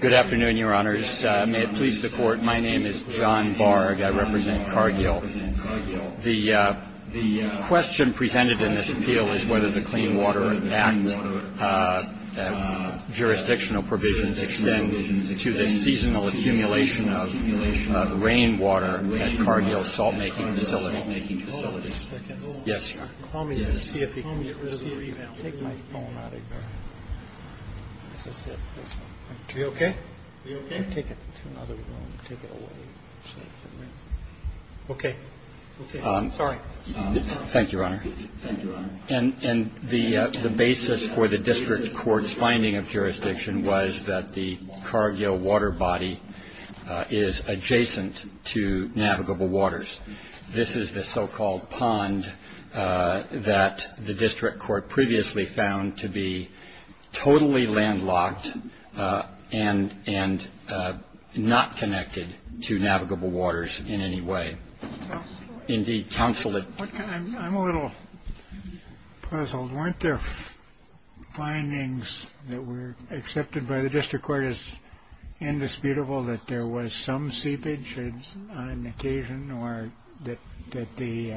Good afternoon, Your Honors. May it please the Court, my name is John Barg. I represent Cargill. The question presented in this appeal is whether the Clean Water Act jurisdictional provisions extend to the seasonal accumulation of rainwater at Cargill's salt making facility. The basis for the district court's finding of jurisdiction was that the Cargill water body is adjacent to navigable waters. This is the so-called pond that the district court previously found to be totally landlocked and not connected to navigable waters in any way. I'm a little puzzled. Weren't there findings that were accepted by the district court as indisputable that there was some seepage on occasion or that the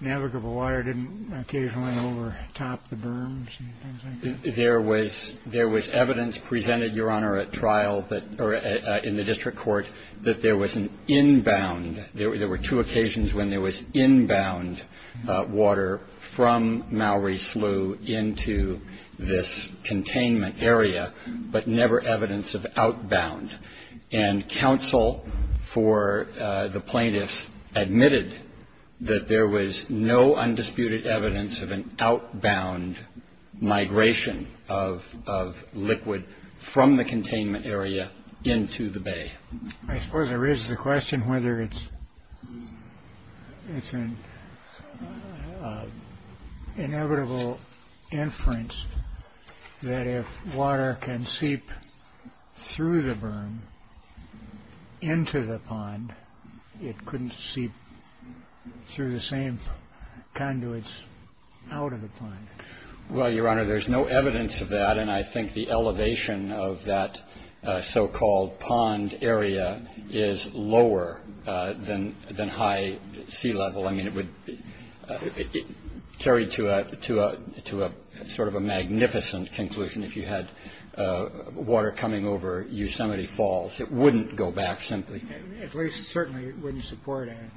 navigable water didn't occasionally overtop the berms and things like that? There was evidence presented, Your Honor, at trial in the district court that there was an inbound. There were two occasions when there was inbound water from Mowry Slough into this containment area, but never evidence of outbound. And counsel for the plaintiffs admitted that there was no undisputed evidence of an outbound migration of liquid from the containment area into the bay. I suppose there is the question whether it's an inevitable inference that if water can seep through the berm into the pond, it couldn't seep through the same conduits out of the pond. Well, Your Honor, there's no evidence of that, and I think the elevation of that so-called pond area is lower than high sea level. I mean, it would carry to a sort of a magnificent conclusion if you had water coming over Yosemite Falls. It wouldn't go back simply. At least certainly it wouldn't support an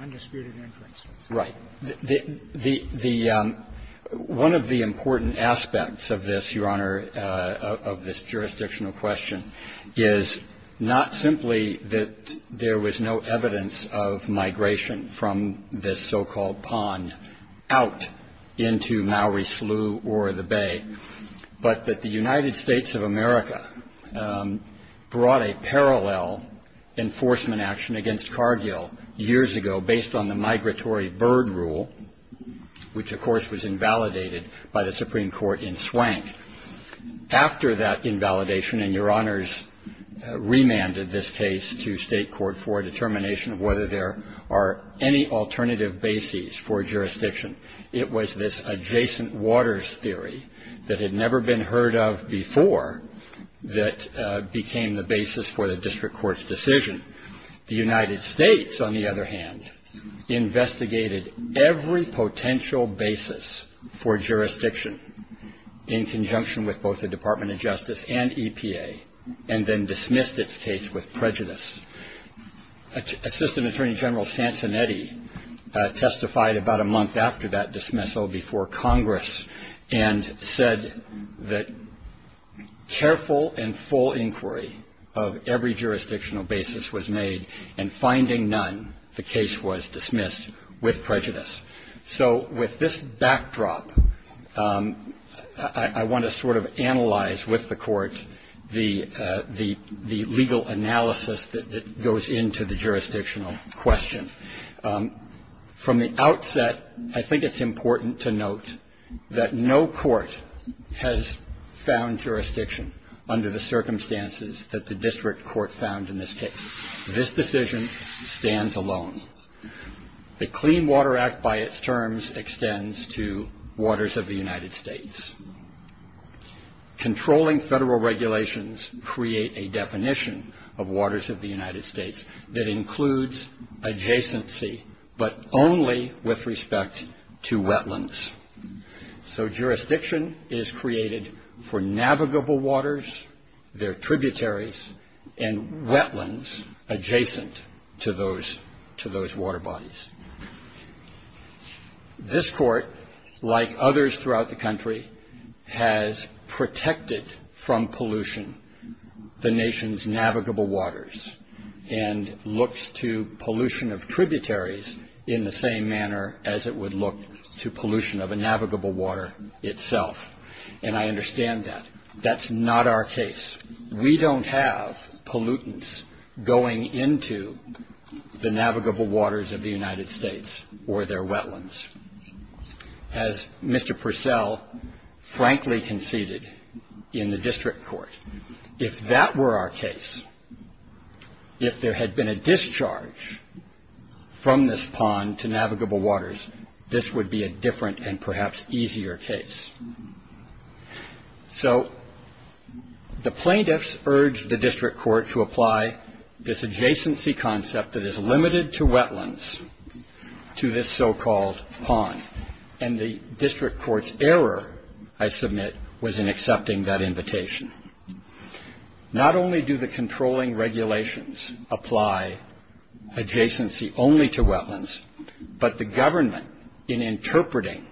undisputed inference. Right. One of the important aspects of this, Your Honor, of this jurisdictional question, is not simply that there was no evidence of migration from this so-called pond out into Mowry Slough or the bay, but that the United States of America brought a parallel enforcement action against Cargill years ago based on the migratory bird rule, which, of course, was invalidated by the Supreme Court in Swank. After that invalidation, and Your Honors remanded this case to state court for a determination of whether there are any alternative bases for jurisdiction. It was this adjacent waters theory that had never been heard of before that became the basis for the district court's decision. The United States, on the other hand, investigated every potential basis for jurisdiction in conjunction with both the Department of Justice and EPA and then dismissed its case with prejudice. Assistant Attorney General Sansanetti testified about a month after that dismissal before Congress and said that careful and full inquiry of every jurisdictional basis was made, and finding none, the case was dismissed with prejudice. So with this backdrop, I want to sort of analyze with the court the legal analysis that goes into the jurisdictional question. From the outset, I think it's important to note that no court has found jurisdiction under the circumstances that the district court found in this case. This decision stands alone. The Clean Water Act, by its terms, extends to waters of the United States. Controlling federal regulations create a definition of waters of the United States that includes adjacency, but only with respect to wetlands. So jurisdiction is created for navigable waters, their tributaries, and wetlands adjacent to those water bodies. This court, like others throughout the country, has protected from pollution the nation's navigable waters and looks to pollution of tributaries in the same manner as it would look to pollution of a navigable water itself. And I understand that. That's not our case. We don't have pollutants going into the navigable waters of the United States or their wetlands. As Mr. Purcell frankly conceded in the district court. If that were our case, if there had been a discharge from this pond to navigable waters, this would be a different and perhaps easier case. So the plaintiffs urged the district court to apply this adjacency concept that is limited to wetlands to this so-called pond. And the district court's error, I submit, was in accepting that invitation. Not only do the controlling regulations apply adjacency only to wetlands, but the government in interpreting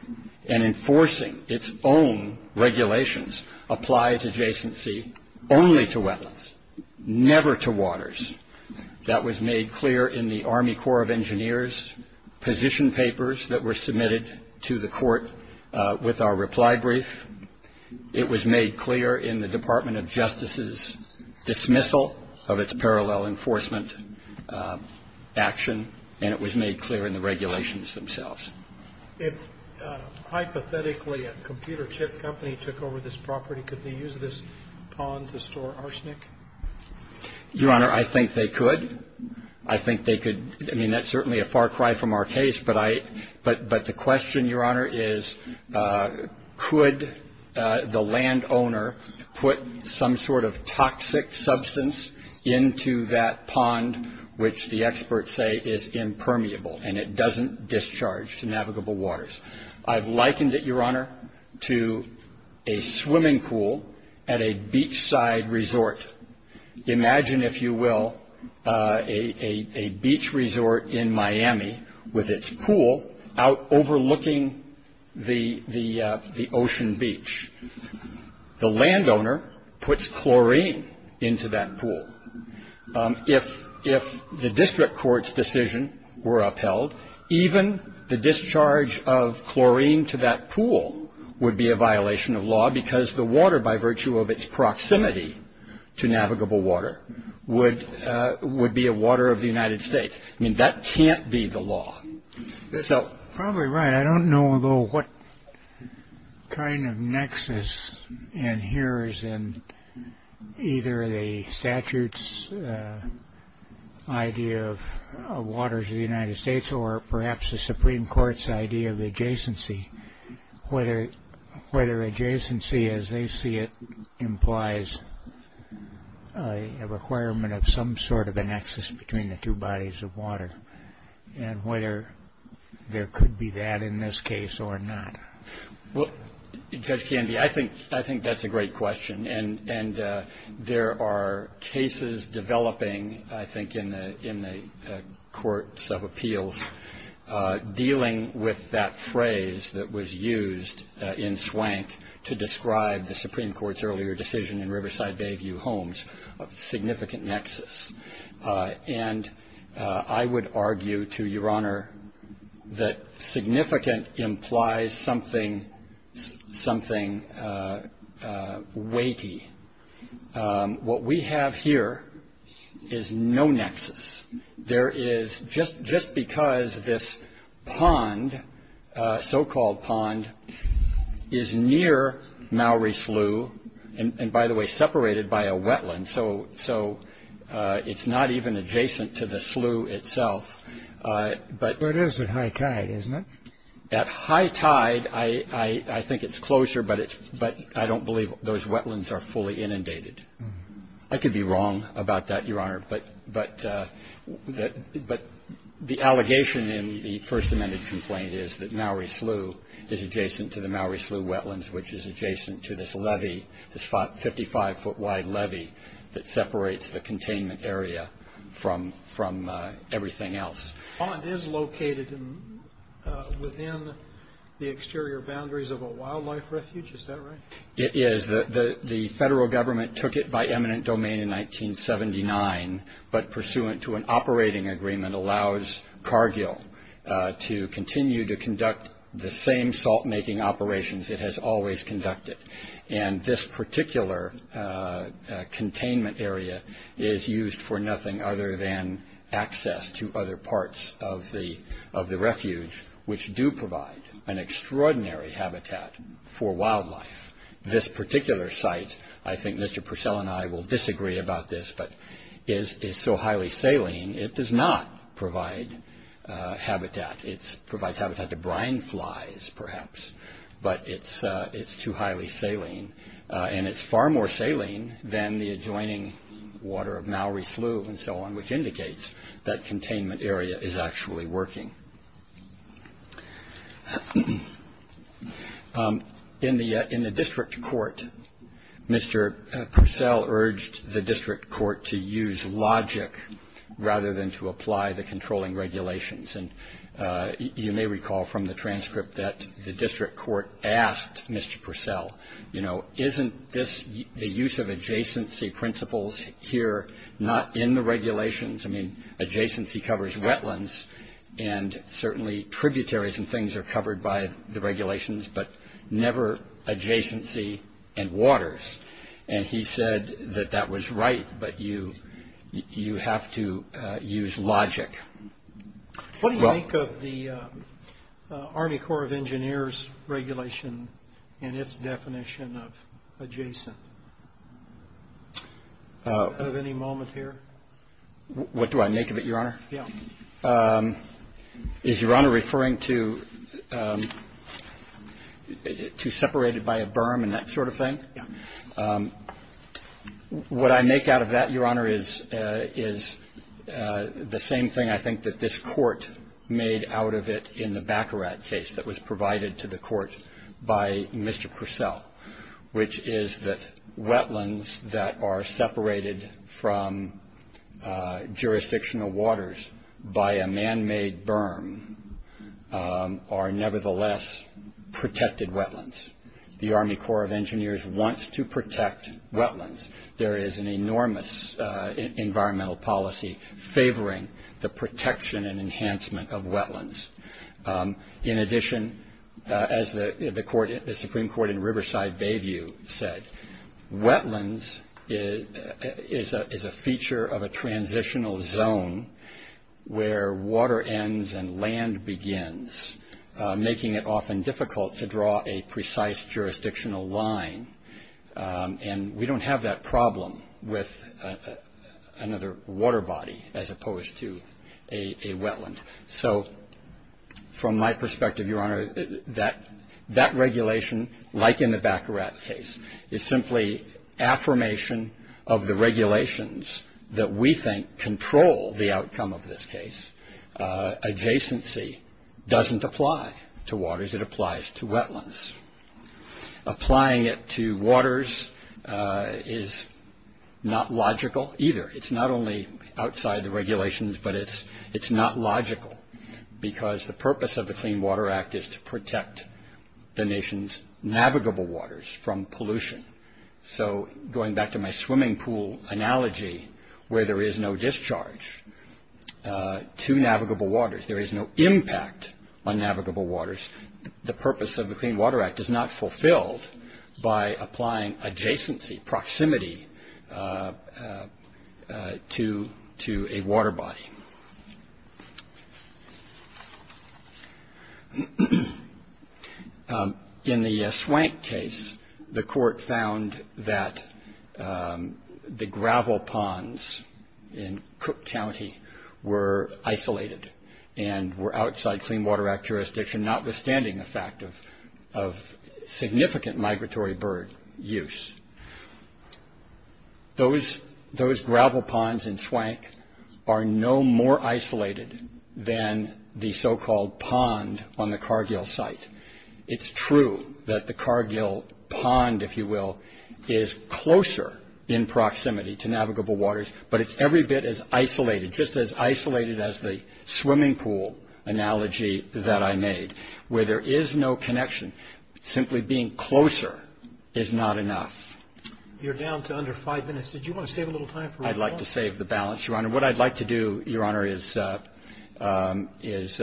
and enforcing its own regulations applies adjacency only to wetlands, never to waters. That was made clear in the Army Corps of Engineers position papers that were submitted to the court with our reply brief. It was made clear in the Department of Justice's dismissal of its parallel enforcement action, and it was made clear in the regulations themselves. If hypothetically a computer chip company took over this property, could they use this pond to store arsenic? Your Honor, I think they could. I think they could. I mean, that's certainly a far cry from our case. But the question, Your Honor, is could the landowner put some sort of toxic substance into that pond, which the experts say is impermeable and it doesn't discharge to navigable waters? I've likened it, Your Honor, to a swimming pool at a beachside resort. Imagine, if you will, a beach resort in Miami with its pool out overlooking the ocean beach. The landowner puts chlorine into that pool. If the district court's decision were upheld, even the discharge of chlorine to that pool would be a violation of law because the water, by virtue of its proximity to navigable water, would be a water of the United States. I mean, that can't be the law. You're probably right. I don't know, though, what kind of nexus adheres in either the statute's idea of waters of the United States or perhaps the Supreme Court's idea of adjacency, whether adjacency, as they see it, implies a requirement of some sort of a nexus between the two bodies of water and whether there could be that in this case or not. Well, Judge Candy, I think that's a great question. And there are cases developing, I think, in the courts of appeals dealing with that phrase that was used in Swank to describe the Supreme Court's earlier decision in Riverside Bayview Homes of significant nexus. And I would argue to Your Honor that significant implies something weighty. What we have here is no nexus. There is, just because this pond, so-called pond, is near Mowry Slough and, by the way, separated by a wetland, so it's not even adjacent to the slough itself. But it is at high tide, isn't it? At high tide, I think it's closer, but I don't believe those wetlands are fully inundated. I could be wrong about that, Your Honor, but the allegation in the First Amendment complaint is that Mowry Slough is adjacent to the Mowry Slough wetlands, which is adjacent to this levee, this 55-foot-wide levee that separates the containment area from everything else. The pond is located within the exterior boundaries of a wildlife refuge, is that right? It is. The federal government took it by eminent domain in 1979, but pursuant to an operating agreement allows Cargill to continue to conduct the same salt-making operations it has always conducted, and this particular containment area is used for nothing other than access to other parts of the refuge, which do provide an extraordinary habitat for wildlife. This particular site, I think Mr. Purcell and I will disagree about this, but is so highly saline, it does not provide habitat. It provides habitat to brine flies, perhaps, but it's too highly saline, and it's far more saline than the adjoining water of Mowry Slough and so on, which indicates that containment area is actually working. In the district court, Mr. Purcell urged the district court to use logic rather than to apply the controlling regulations, and you may recall from the transcript that the district court asked Mr. Purcell, you know, isn't the use of adjacency principles here not in the regulations? I mean, adjacency covers wetlands, and certainly tributaries and things are covered by the regulations, but never adjacency and waters, and he said that that was right, but you have to use logic. What do you make of the Army Corps of Engineers regulation and its definition of adjacent at any moment here? What do I make of it, Your Honor? Yeah. Is Your Honor referring to separated by a berm and that sort of thing? Yeah. What I make out of that, Your Honor, is the same thing I think that this court made out of it in the Baccarat case that was provided to the court by Mr. Purcell, which is that wetlands that are separated from jurisdictional waters by a man-made berm are nevertheless protected wetlands. The Army Corps of Engineers wants to protect wetlands. There is an enormous environmental policy favoring the protection and enhancement of wetlands. In addition, as the Supreme Court in Riverside Bayview said, wetlands is a feature of a transitional zone where water ends and land begins, making it often difficult to draw a precise jurisdictional line, and we don't have that problem with another water body as opposed to a wetland. So from my perspective, Your Honor, that regulation, like in the Baccarat case, is simply affirmation of the regulations that we think control the outcome of this case. Adjacency doesn't apply to waters. It applies to wetlands. Applying it to waters is not logical either. It's not only outside the regulations, but it's not logical because the purpose of the Clean Water Act is to protect the nation's navigable waters from pollution. So going back to my swimming pool analogy where there is no discharge to navigable waters, there is no impact on navigable waters, the purpose of the Clean Water Act is not fulfilled by applying adjacency, proximity, to a water body. In the Swank case, the court found that the gravel ponds in Cook County were isolated and were outside Clean Water Act jurisdiction, notwithstanding the fact of significant migratory bird use. Those gravel ponds in Swank are no more isolated than the so-called pond on the Cargill site. It's true that the Cargill pond, if you will, is closer in proximity to navigable waters, but it's every bit as isolated, just as isolated as the swimming pool analogy that I made, where there is no connection. Simply being closer is not enough. You're down to under five minutes. Did you want to save a little time for rebuttal? I'd like to save the balance, Your Honor. What I'd like to do, Your Honor, is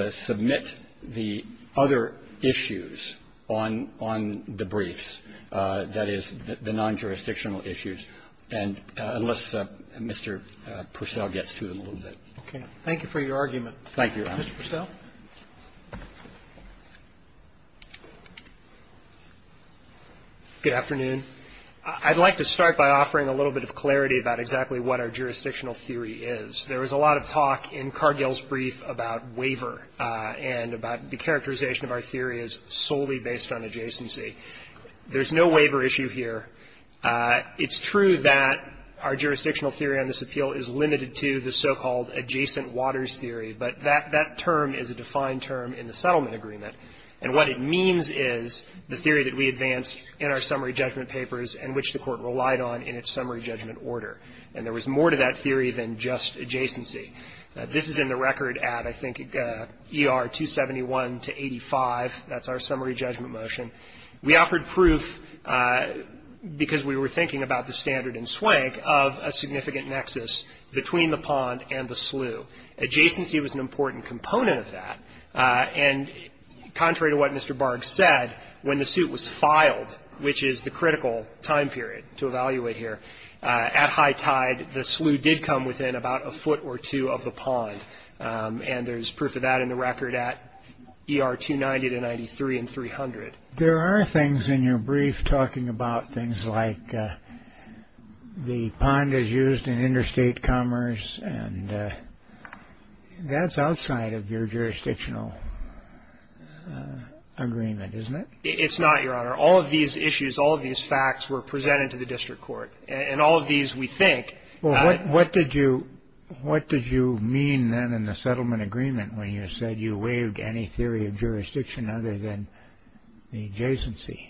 submit the other issues on the briefs, that is, the non-jurisdictional issues. And unless Mr. Purcell gets to them a little bit. Okay. Thank you for your argument. Thank you, Your Honor. Mr. Purcell. Good afternoon. I'd like to start by offering a little bit of clarity about exactly what our jurisdictional theory is. There was a lot of talk in Cargill's brief about waiver and about the characterization of our theory as solely based on adjacency. There's no waiver issue here. It's true that our jurisdictional theory on this appeal is limited to the so-called adjacent waters theory, but that term is a defined term in the settlement agreement. And what it means is the theory that we advanced in our summary judgment papers and which the Court relied on in its summary judgment order. And there was more to that theory than just adjacency. This is in the record at, I think, ER 271 to 85. That's our summary judgment motion. We offered proof because we were thinking about the standard in Swank of a significant nexus between the pond and the slough. Adjacency was an important component of that. And contrary to what Mr. Barg said, when the suit was filed, which is the critical time period to evaluate here, at high tide, the slough did come within about a foot or two of the pond. And there's proof of that in the record at ER 290 to 93 and 300. There are things in your brief talking about things like the pond is used in interstate commerce, and that's outside of your jurisdictional agreement, isn't it? It's not, Your Honor. All of these issues, all of these facts were presented to the district court. And all of these, we think, Well, what did you mean then in the settlement agreement when you said you waived any adjacency?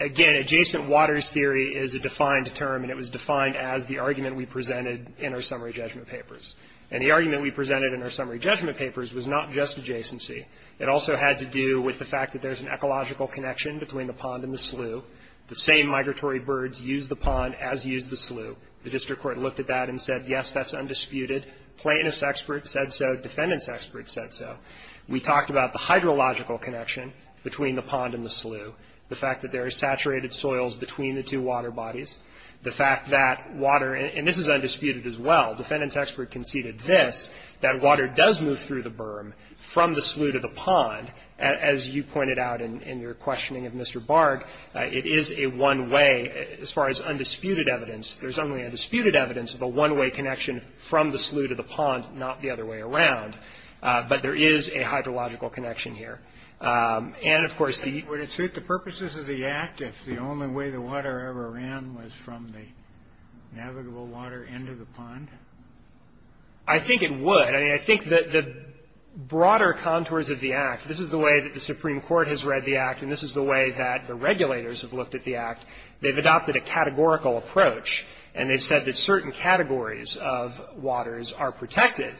Again, adjacent waters theory is a defined term, and it was defined as the argument we presented in our summary judgment papers. And the argument we presented in our summary judgment papers was not just adjacency. It also had to do with the fact that there's an ecological connection between the pond and the slough. The same migratory birds used the pond as used the slough. The district court looked at that and said, yes, that's undisputed. Plaintiffs' experts said so. Defendants' experts said so. We talked about the hydrological connection between the pond and the slough, the fact that there are saturated soils between the two water bodies, the fact that water, and this is undisputed as well. Defendants' experts conceded this, that water does move through the berm from the slough to the pond. As you pointed out in your questioning of Mr. Barg, it is a one-way. As far as undisputed evidence, there's only undisputed evidence of a one-way connection from the slough to the pond, not the other way around. But there is a hydrological connection here. And, of course, the – Would it suit the purposes of the Act if the only way the water ever ran was from the navigable water into the pond? I think it would. I mean, I think that the broader contours of the Act, this is the way that the Supreme Court has read the Act, and this is the way that the regulators have looked at the Act. They've adopted a categorical approach, and they've said that certain categories of waters are protected,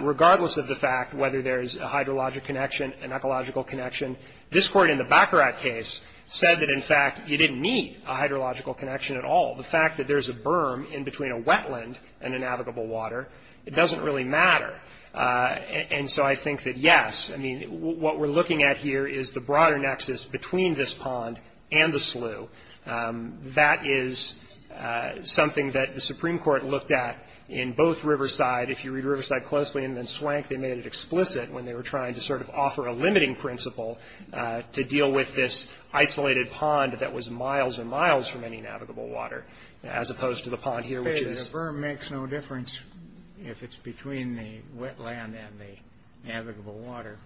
regardless of the fact whether there's a hydrologic connection, an ecological connection. This Court in the Baccarat case said that, in fact, you didn't need a hydrological connection at all. The fact that there's a berm in between a wetland and a navigable water, it doesn't really matter. And so I think that, yes, I mean, what we're looking at here is the broader nexus between this pond and the slough. That is something that the Supreme Court looked at in both Riverside. If you read Riverside closely and then Swank, they made it explicit when they were trying to sort of offer a limiting principle to deal with this isolated pond that was miles and miles from any navigable water, as opposed to the pond here, which is – The berm makes no difference if it's between the wetland and the navigable water.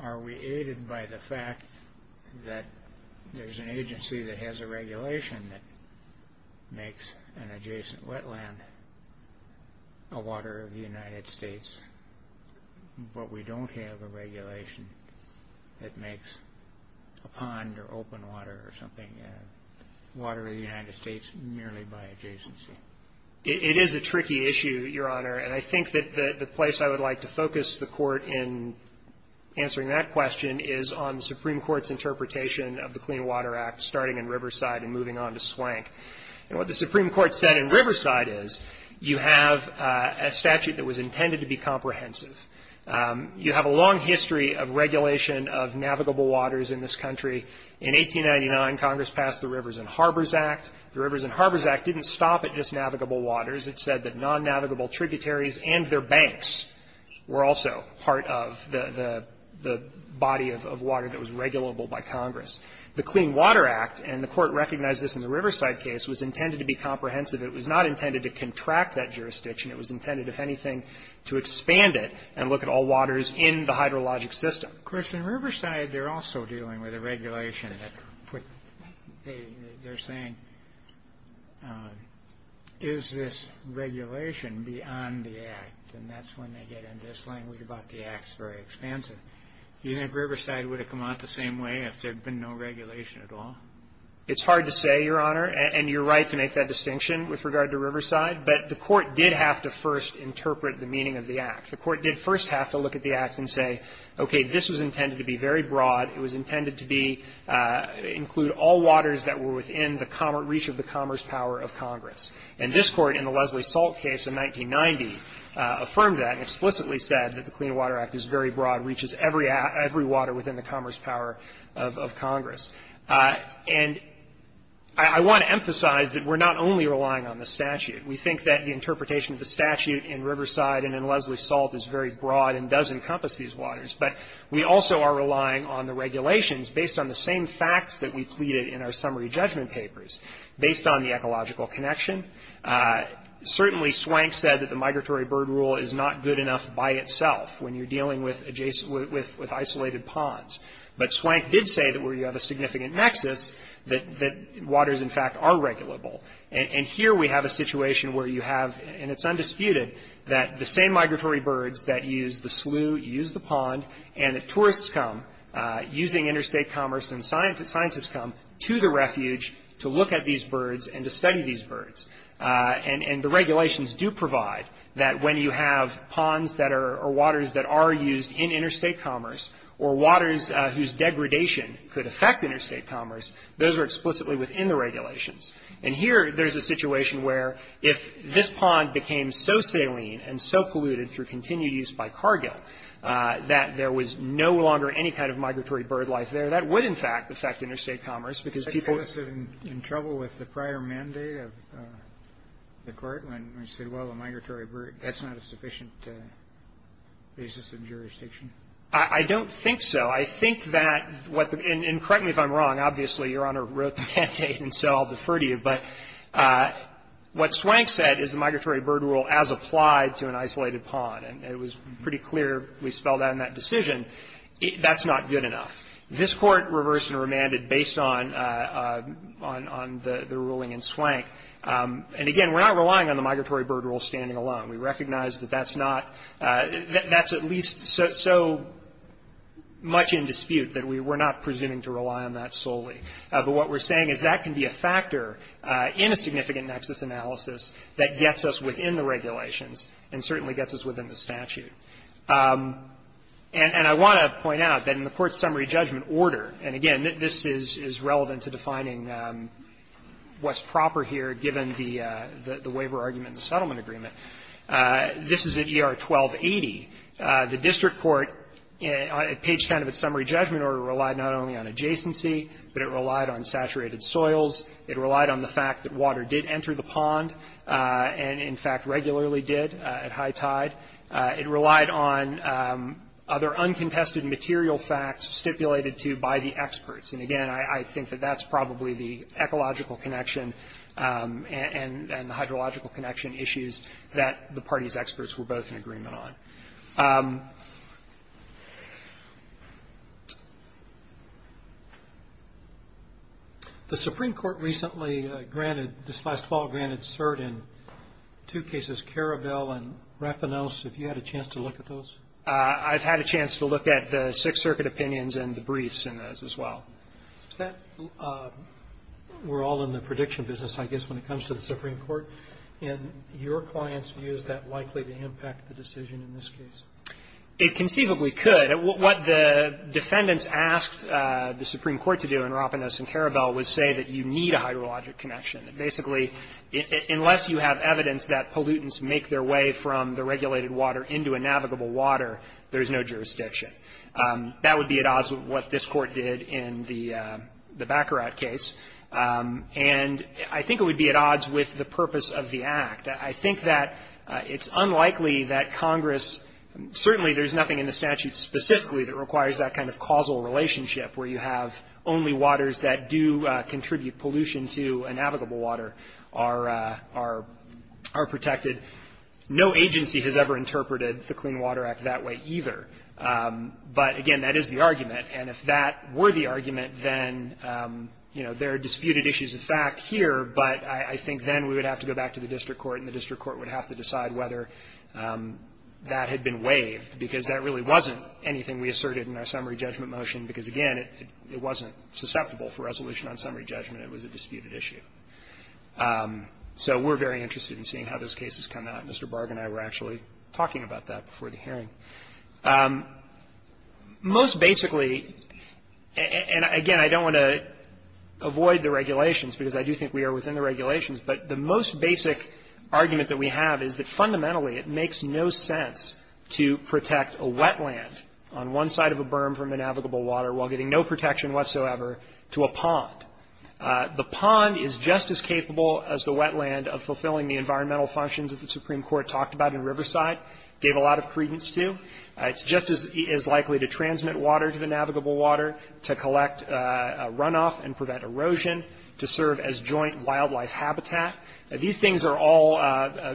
Are we aided by the fact that there's an agency that has a regulation that makes an adjacent wetland a water of the United States, but we don't have a regulation that makes a pond or open water or something a water of the United States merely by adjacency? It is a tricky issue, Your Honor. And I think that the place I would like to focus the Court in answering that question is on the Supreme Court's interpretation of the Clean Water Act, starting in Riverside and moving on to Swank. And what the Supreme Court said in Riverside is you have a statute that was intended to be comprehensive. You have a long history of regulation of navigable waters in this country. In 1899, Congress passed the Rivers and Harbors Act. The Rivers and Harbors Act didn't stop at just navigable waters. It said that non-navigable tributaries and their banks were also part of the body of water that was regulable by Congress. The Clean Water Act, and the Court recognized this in the Riverside case, was intended to be comprehensive. It was not intended to contract that jurisdiction. It was intended, if anything, to expand it and look at all waters in the hydrologic Of course, in Riverside, they're also dealing with a regulation that put they're saying, is this regulation beyond the Act? And that's when they get in this language about the Act's very expansive. Do you think Riverside would have come out the same way if there had been no regulation at all? It's hard to say, Your Honor, and you're right to make that distinction with regard to Riverside. But the Court did have to first interpret the meaning of the Act. The Court did first have to look at the Act and say, okay, this was intended to be very broad. It was intended to be, include all waters that were within the reach of the commerce power of Congress. And this Court in the Leslie Salt case in 1990 affirmed that and explicitly said that the Clean Water Act is very broad, reaches every water within the commerce power of Congress. And I want to emphasize that we're not only relying on the statute. We think that the interpretation of the statute in Riverside and in Leslie Salt is very broad and does encompass these waters. But we also are relying on the regulations based on the same facts that we pleaded in our summary judgment papers, based on the ecological connection. Certainly, Swank said that the migratory bird rule is not good enough by itself when you're dealing with isolated ponds. But Swank did say that where you have a significant nexus, that waters, in fact, are regulable. And here we have a situation where you have, and it's undisputed, that the same migratory birds that use the slough, use the pond, and the tourists come using interstate commerce and scientists come to the refuge to look at these birds and to study these birds. And the regulations do provide that when you have ponds that are, or waters that are used in interstate commerce or waters whose degradation could affect interstate commerce, those are explicitly within the regulations. And here there's a situation where if this pond became so saline and so polluted through continued use by Cargill that there was no longer any kind of migratory bird life there, that would, in fact, affect interstate commerce, because people ---- Kennedy, in trouble with the prior mandate of the Court when they said, well, a migratory bird, that's not a sufficient basis of jurisdiction? I don't think so. I think that what the ---- and correct me if I'm wrong. Obviously, Your Honor wrote the mandate, and so I'll defer to you. But what Swank said is the migratory bird rule as applied to an isolated pond. And it was pretty clear we spelled out in that decision, that's not good enough. This Court reversed and remanded based on the ruling in Swank. And, again, we're not relying on the migratory bird rule standing alone. We recognize that that's not ---- that's at least so much in dispute that we're not presuming to rely on that solely. But what we're saying is that can be a factor in a significant nexus analysis that gets us within the regulations and certainly gets us within the statute. And I want to point out that in the Court's summary judgment order, and, again, this is relevant to defining what's proper here given the waiver argument in the settlement agreement, this is at ER 1280. The district court at page 10 of its summary judgment order relied not only on adjacency, but it relied on saturated soils. It relied on the fact that water did enter the pond and, in fact, regularly did at high tide. It relied on other uncontested material facts stipulated to by the experts. And, again, I think that that's probably the ecological connection and the hydrological connection issues that the party's experts were both in agreement on. The Supreme Court recently granted ---- this last fall granted cert in two cases, Karabel and Rapinos. Have you had a chance to look at those? I've had a chance to look at the Sixth Circuit opinions and the briefs in those as well. Is that ---- we're all in the prediction business, I guess, when it comes to the Supreme Court. In your clients' views, is that likely to impact the decision in this case? It conceivably could. What the defendants asked the Supreme Court to do in Rapinos and Karabel was say that you need a hydrologic connection. Basically, unless you have evidence that pollutants make their way from the regulated water into a navigable water, there's no jurisdiction. That would be at odds with what this Court did in the Baccarat case. And I think it would be at odds with the purpose of the Act. I think that it's unlikely that Congress ---- certainly there's nothing in the statute specifically that requires that kind of causal relationship where you have only waters that do contribute pollution to a navigable water are protected. No agency has ever interpreted the Clean Water Act that way either. But, again, that is the argument. And if that were the argument, then, you know, there are disputed issues of fact here. But I think then we would have to go back to the district court, and the district court would have to decide whether that had been waived, because that really wasn't anything we asserted in our summary judgment motion, because, again, it wasn't susceptible for resolution on summary judgment. It was a disputed issue. So we're very interested in seeing how those cases come out. Mr. Barg and I were actually talking about that before the hearing. Most basically, and, again, I don't want to avoid the regulations, because I do think we are within the regulations, but the most basic argument that we have is that fundamentally it makes no sense to protect a wetland on one side of a berm from the navigable water while getting no protection whatsoever to a pond. The pond is just as capable as the wetland of fulfilling the environmental functions that the Supreme Court talked about in Riverside, gave a lot of credence to. It's just as likely to transmit water to the navigable water, to collect runoff and prevent erosion, to serve as joint wildlife habitat. These things are all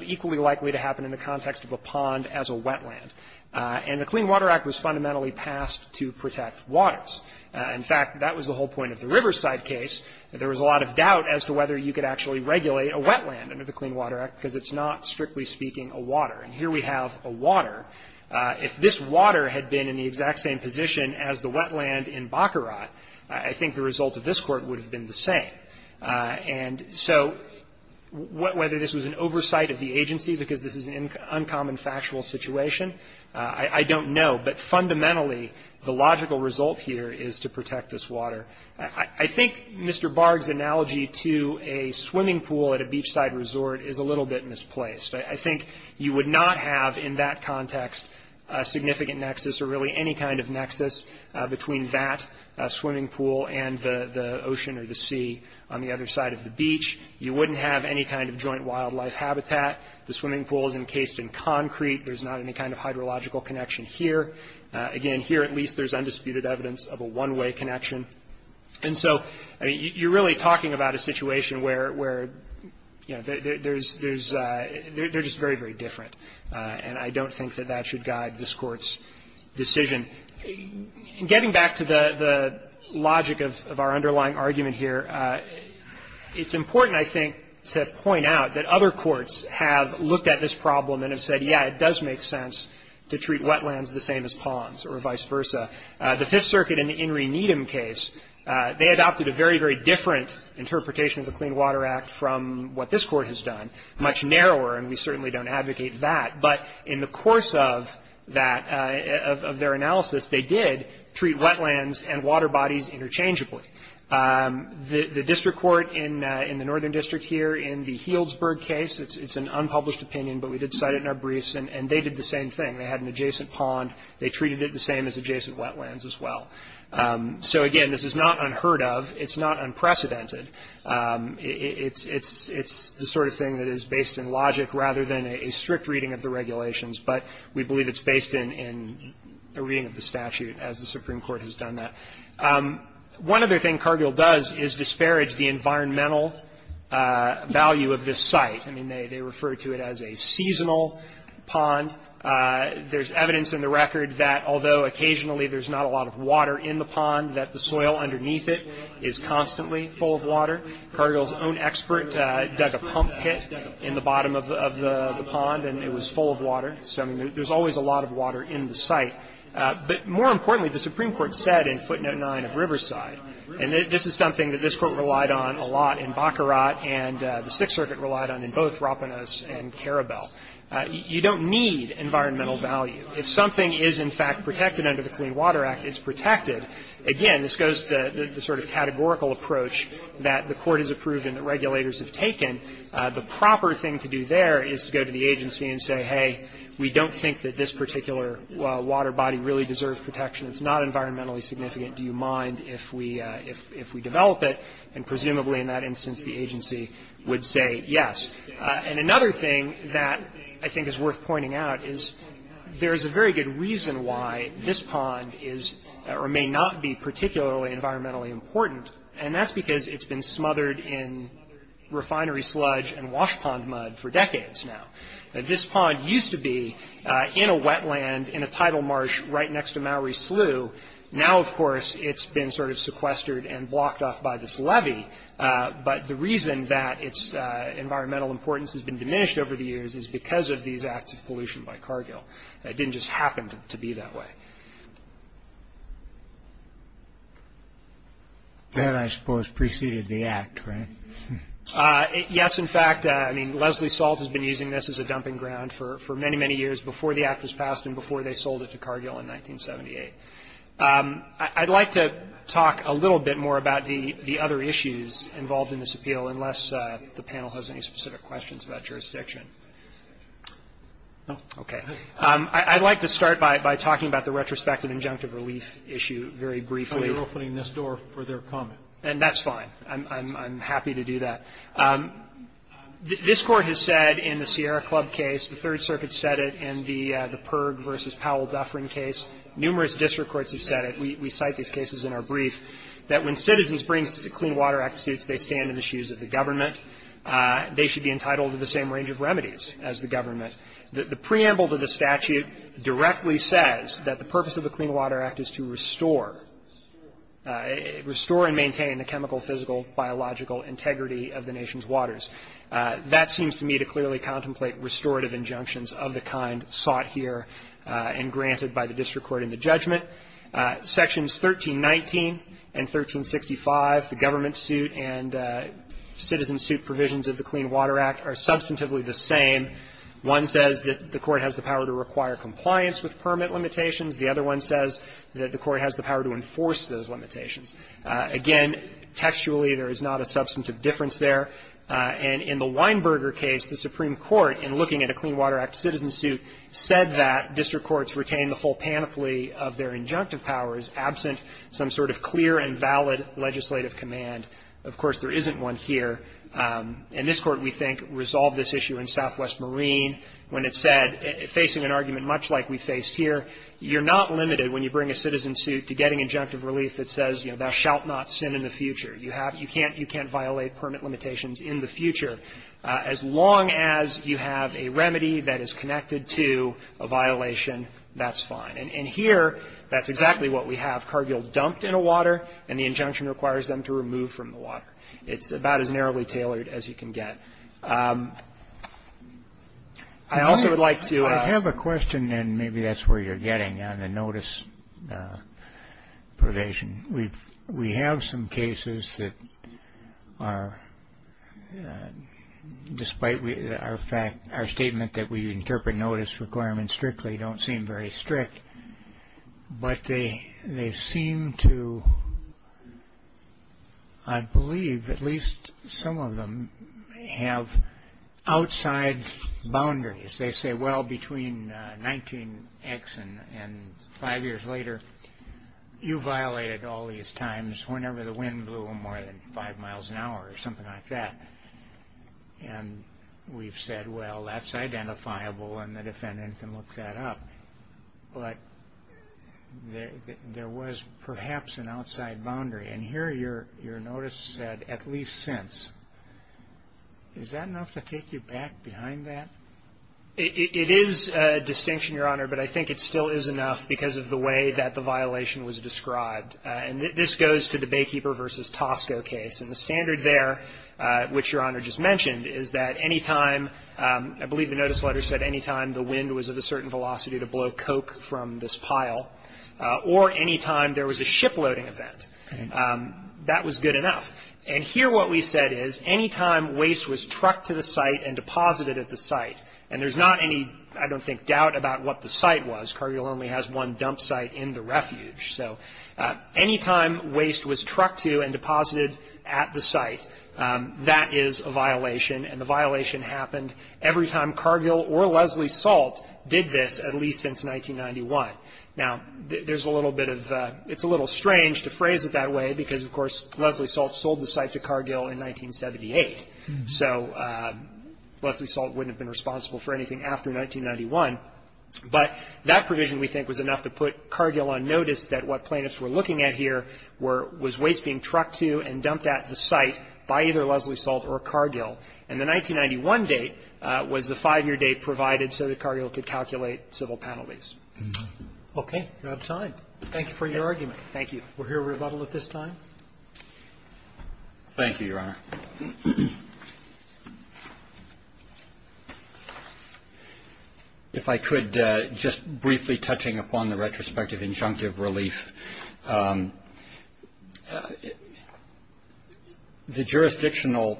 equally likely to happen in the context of a pond as a wetland. And the Clean Water Act was fundamentally passed to protect waters. In fact, that was the whole point of the Riverside case. There was a lot of doubt as to whether you could actually regulate a wetland under the Clean Water Act, because it's not, strictly speaking, a water. And here we have a water. If this water had been in the exact same position as the wetland in Baccarat, I think the result of this Court would have been the same. And so whether this was an oversight of the agency, because this is an uncommon factual situation, I don't know. But fundamentally, the logical result here is to protect this water. I think Mr. Barg's analogy to a swimming pool at a beachside resort is a little bit misplaced. I think you would not have in that context a significant nexus or really any kind of nexus between that swimming pool and the ocean or the sea on the other side of the beach. You wouldn't have any kind of joint wildlife habitat. The swimming pool is encased in concrete. There's not any kind of hydrological connection here. Again, here at least there's undisputed evidence of a one-way connection. And so, I mean, you're really talking about a situation where, you know, there's just very, very different. And I don't think that that should guide this Court's decision. Getting back to the logic of our underlying argument here, it's important, I think, to point out that other courts have looked at this problem and have said, yeah, it does make sense to treat wetlands the same as ponds or vice versa. The Fifth Circuit in the In re Needem case, they adopted a very, very different interpretation of the Clean Water Act from what this Court has done, much narrower, and we certainly don't advocate that. But in the course of that, of their analysis, they did treat wetlands and water bodies interchangeably. The district court in the northern district here in the Healdsburg case, it's an unpublished opinion, but we did cite it in our briefs, and they did the same thing. They had an adjacent pond. They treated it the same as adjacent wetlands as well. So, again, this is not unheard of. It's not unprecedented. It's the sort of thing that is based in logic rather than a strict reading of the regulations, but we believe it's based in a reading of the statute as the Supreme Court has done that. One other thing Cargill does is disparage the environmental value of this site. I mean, they refer to it as a seasonal pond. There's evidence in the record that although occasionally there's not a lot of water in the pond, that the soil underneath it is constantly full of water. Cargill's own expert dug a pump pit in the bottom of the pond, and it was full of water. So, I mean, there's always a lot of water in the site. But more importantly, the Supreme Court said in Footnote 9 of Riverside, and this is something that this Court relied on a lot in Baccarat and the Sixth Circuit relied on in both Rapanos and Karabel, you don't need environmental value. If something is, in fact, protected under the Clean Water Act, it's protected. Again, this goes to the sort of categorical approach that the Court has approved and that regulators have taken. The proper thing to do there is to go to the agency and say, hey, we don't think that this particular water body really deserves protection. It's not environmentally significant. Do you mind if we develop it? And presumably in that instance, the agency would say yes. And another thing that I think is worth pointing out is there's a very good reason why this pond is or may not be particularly environmentally important, and that's because it's been smothered in refinery sludge and wash pond mud for decades now. This pond used to be in a wetland in a tidal marsh right next to Maury Slough. Now, of course, it's been sort of sequestered and blocked off by this levee, but the reason that its environmental importance has been diminished over the years is because of these acts of pollution by Cargill. It didn't just happen to be that way. That, I suppose, preceded the Act, right? Yes, in fact. I mean, Leslie Salt has been using this as a dumping ground for many, many years before the Act was passed and before they sold it to Cargill in 1978. I'd like to talk a little bit more about the other issues involved in this appeal, unless the panel has any specific questions about jurisdiction. No? Okay. I'd like to start by talking about the retrospective injunctive relief issue very briefly. So you're opening this door for their comment? And that's fine. I'm happy to do that. This Court has said in the Sierra Club case, the Third Circuit said it in the Perg v. Powell-Dufferin case, numerous district courts have said it. We cite these cases in our brief that when citizens bring clean water act suits, they stand in the shoes of the government. They should be entitled to the same range of remedies as the government. The preamble to the statute directly says that the purpose of the Clean Water Act is to restore and maintain the chemical, physical, biological integrity of the nation's waters. That seems to me to clearly contemplate restorative injunctions of the kind sought here and granted by the district court in the judgment. Sections 1319 and 1365, the government suit and citizen suit provisions of the Clean Water Act, are substantively the same. One says that the Court has the power to require compliance with permit limitations. The other one says that the Court has the power to enforce those limitations. Again, textually, there is not a substantive difference there. And in the Weinberger case, the Supreme Court, in looking at a Clean Water Act citizen suit, said that district courts retain the full panoply of their injunctive powers absent some sort of clear and valid legislative command. Of course, there isn't one here. And this Court, we think, resolved this issue in Southwest Marine when it said, facing an argument much like we faced here, you're not limited when you bring a citizen suit to getting injunctive relief that says, you know, thou shalt not sin in the future. You can't violate permit limitations in the future. As long as you have a remedy that is connected to a violation, that's fine. And here, that's exactly what we have. Cargill dumped in a water, and the injunction requires them to remove from the water. It's about as narrowly tailored as you can get. I also would like to... I have a question, and maybe that's where you're getting on the notice probation. We have some cases that are, despite our statement that we interpret notice requirements strictly, don't seem very strict. But they seem to, I believe, at least some of them, have outside boundaries. They say, well, between 19X and five years later, you violated all these times whenever the wind blew more than five miles an hour or something like that. And we've said, well, that's identifiable, and the defendant can look that up. But there was perhaps an outside boundary. And here, your notice said, at least since. Is that enough to take you back behind that? It is a distinction, Your Honor, but I think it still is enough because of the way that the violation was described. And this goes to the Baykeeper v. Tosco case. And the standard there, which Your Honor just mentioned, is that any time, I believe the notice letter said, any time the wind was at a certain velocity to blow coke from this pile, or any time there was a shiploading event, that was good enough. And here what we said is, any time waste was trucked to the site and deposited at the site, and there's not any, I don't think, doubt about what the site was. Cargill only has one dump site in the refuge. So any time waste was trucked to and deposited at the site, that is a violation. And the violation happened every time Cargill or Leslie Salt did this, at least since 1991. Now, there's a little bit of a, it's a little strange to phrase it that way because, of course, Leslie Salt sold the site to Cargill in 1978. So Leslie Salt wouldn't have been responsible for anything after 1991. But that provision, we think, was enough to put Cargill on notice that what plaintiffs were looking at here were, was waste being trucked to and dumped at the site by either Cargill or Leslie Salt. And the 1991 date was the five-year date provided so that Cargill could calculate civil penalties. Roberts. Okay. We're out of time. Thank you for your argument. Thank you. We'll hear rebuttal at this time. Thank you, Your Honor. If I could, just briefly touching upon the retrospective injunctive relief. The jurisdictional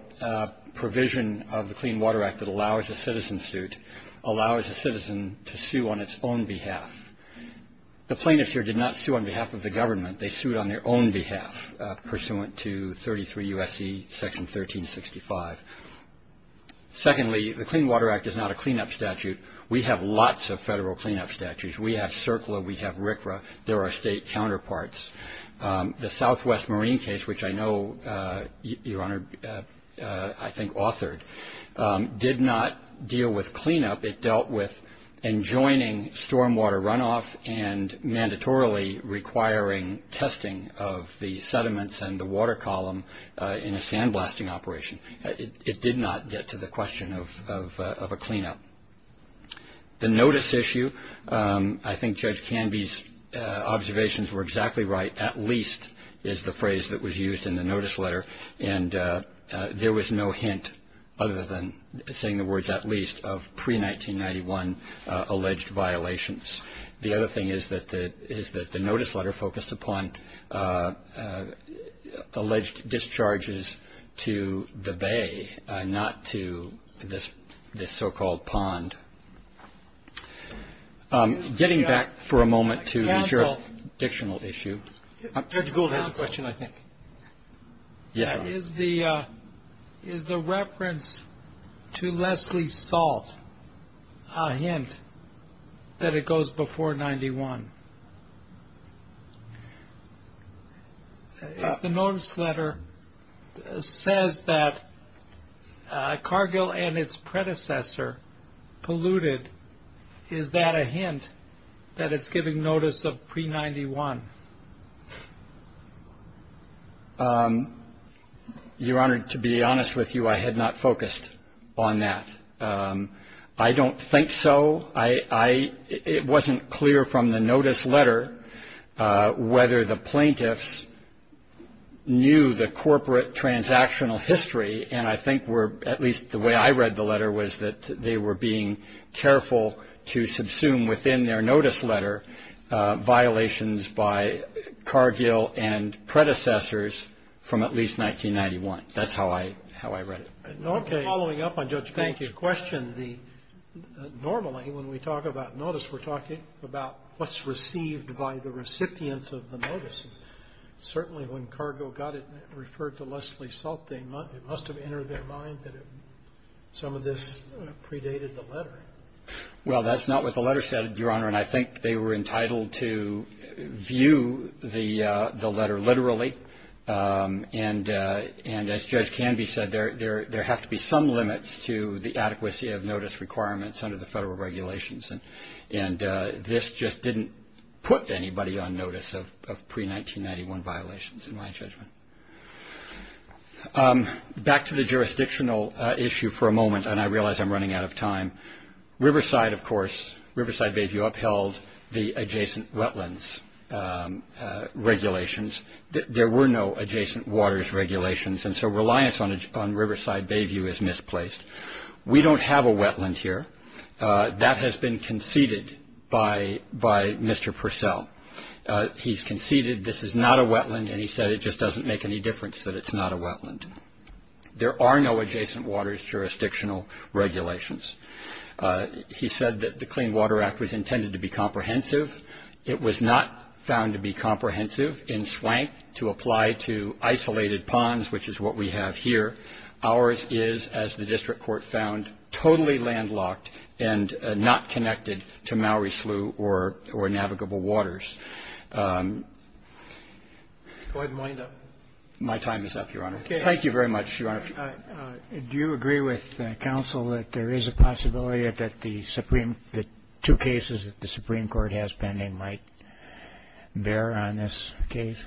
provision of the Clean Water Act that allows a citizen suit allows a citizen to sue on its own behalf. The plaintiffs here did not sue on behalf of the government. They sued on their own behalf, pursuant to 33 U.S.C. Section 1365. Secondly, the Clean Water Act is not a cleanup statute. We have lots of federal cleanup statutes. We have CERCLA. We have RCRA. There are state counterparts. The Southwest Marine case, which I know, Your Honor, I think authored, did not deal with cleanup. It dealt with enjoining stormwater runoff and mandatorily requiring testing of the sediments and the water column in a sandblasting operation. It did not get to the question of a cleanup. The notice issue, I think Judge Canby's observations were exactly right. At least is the phrase that was used in the notice letter, and there was no hint, other than saying the words at least, of pre-1991 alleged violations. The other thing is that the notice letter focused upon alleged discharges to the bay, not to this so-called pond. Getting back for a moment to the jurisdictional issue. Judge Gould had a question, I think. Is the reference to Leslie Salt a hint that it goes before 91? If the notice letter says that Cargill and its predecessor polluted, is that a hint that it's giving notice of pre-91? Your Honor, to be honest with you, I had not focused on that. I don't think so. It wasn't clear from the notice letter whether the plaintiffs knew the corporate transactional history, and I think at least the way I read the letter was that they were being careful to subsume within their notice letter violations by Cargill and predecessors from at least 1991. That's how I read it. Okay. Following up on Judge Gould's question, normally when we talk about notice, we're talking about what's received by the recipient of the notice. Certainly when Cargill got it and referred to Leslie Salt, it must have entered their mind that some of this predated the letter. Well, that's not what the letter said, Your Honor, and I think they were entitled to view the letter literally. And as Judge Canby said, there have to be some limits to the adequacy of notice requirements under the federal regulations, and this just didn't put anybody on notice of pre-1991 violations in my judgment. Back to the jurisdictional issue for a moment, and I realize I'm running out of time. Riverside, of course, Riverside Bayview upheld the adjacent wetlands regulations. There were no adjacent waters regulations, and so reliance on Riverside Bayview is misplaced. We don't have a wetland here. That has been conceded by Mr. Purcell. He's conceded this is not a wetland, and he said it just doesn't make any difference that it's not a wetland. There are no adjacent waters jurisdictional regulations. He said that the Clean Water Act was intended to be comprehensive. It was not found to be comprehensive in Swank to apply to isolated ponds, which is what we have here. Ours is, as the district court found, totally landlocked and not connected to Mowry Slough or navigable waters. Go ahead and wind up. My time is up, Your Honor. Thank you very much, Your Honor. Do you agree with counsel that there is a possibility that the two cases that the Supreme Court has pending might bear on this case?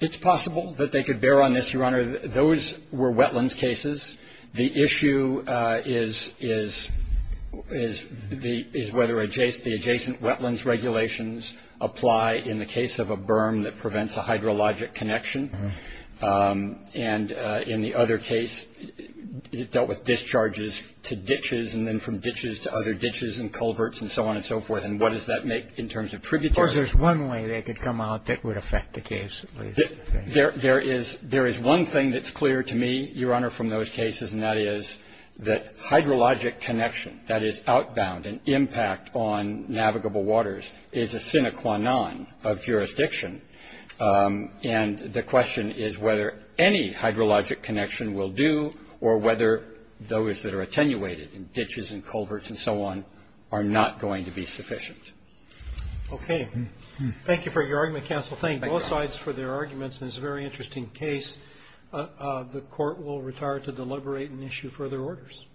It's possible that they could bear on this, Your Honor. Those were wetlands cases. The issue is whether the adjacent wetlands regulations apply in the case of a berm that prevents a hydrologic connection and in the other case dealt with discharges to ditches and then from ditches to other ditches and culverts and so on and so forth. And what does that make in terms of tributaries? Of course, there's one way they could come out that would affect the case. There is one thing that's clear to me, Your Honor, from those cases, and that is that hydrologic connection, that is outbound and impact on navigable waters, is a sine qua non of jurisdiction. And the question is whether any hydrologic connection will do or whether those that are attenuated in ditches and culverts and so on are not going to be sufficient. Okay. Thank you for your argument, counsel. Thank both sides for their arguments, and it's a very interesting case. The Court will retire to deliberate and issue further orders.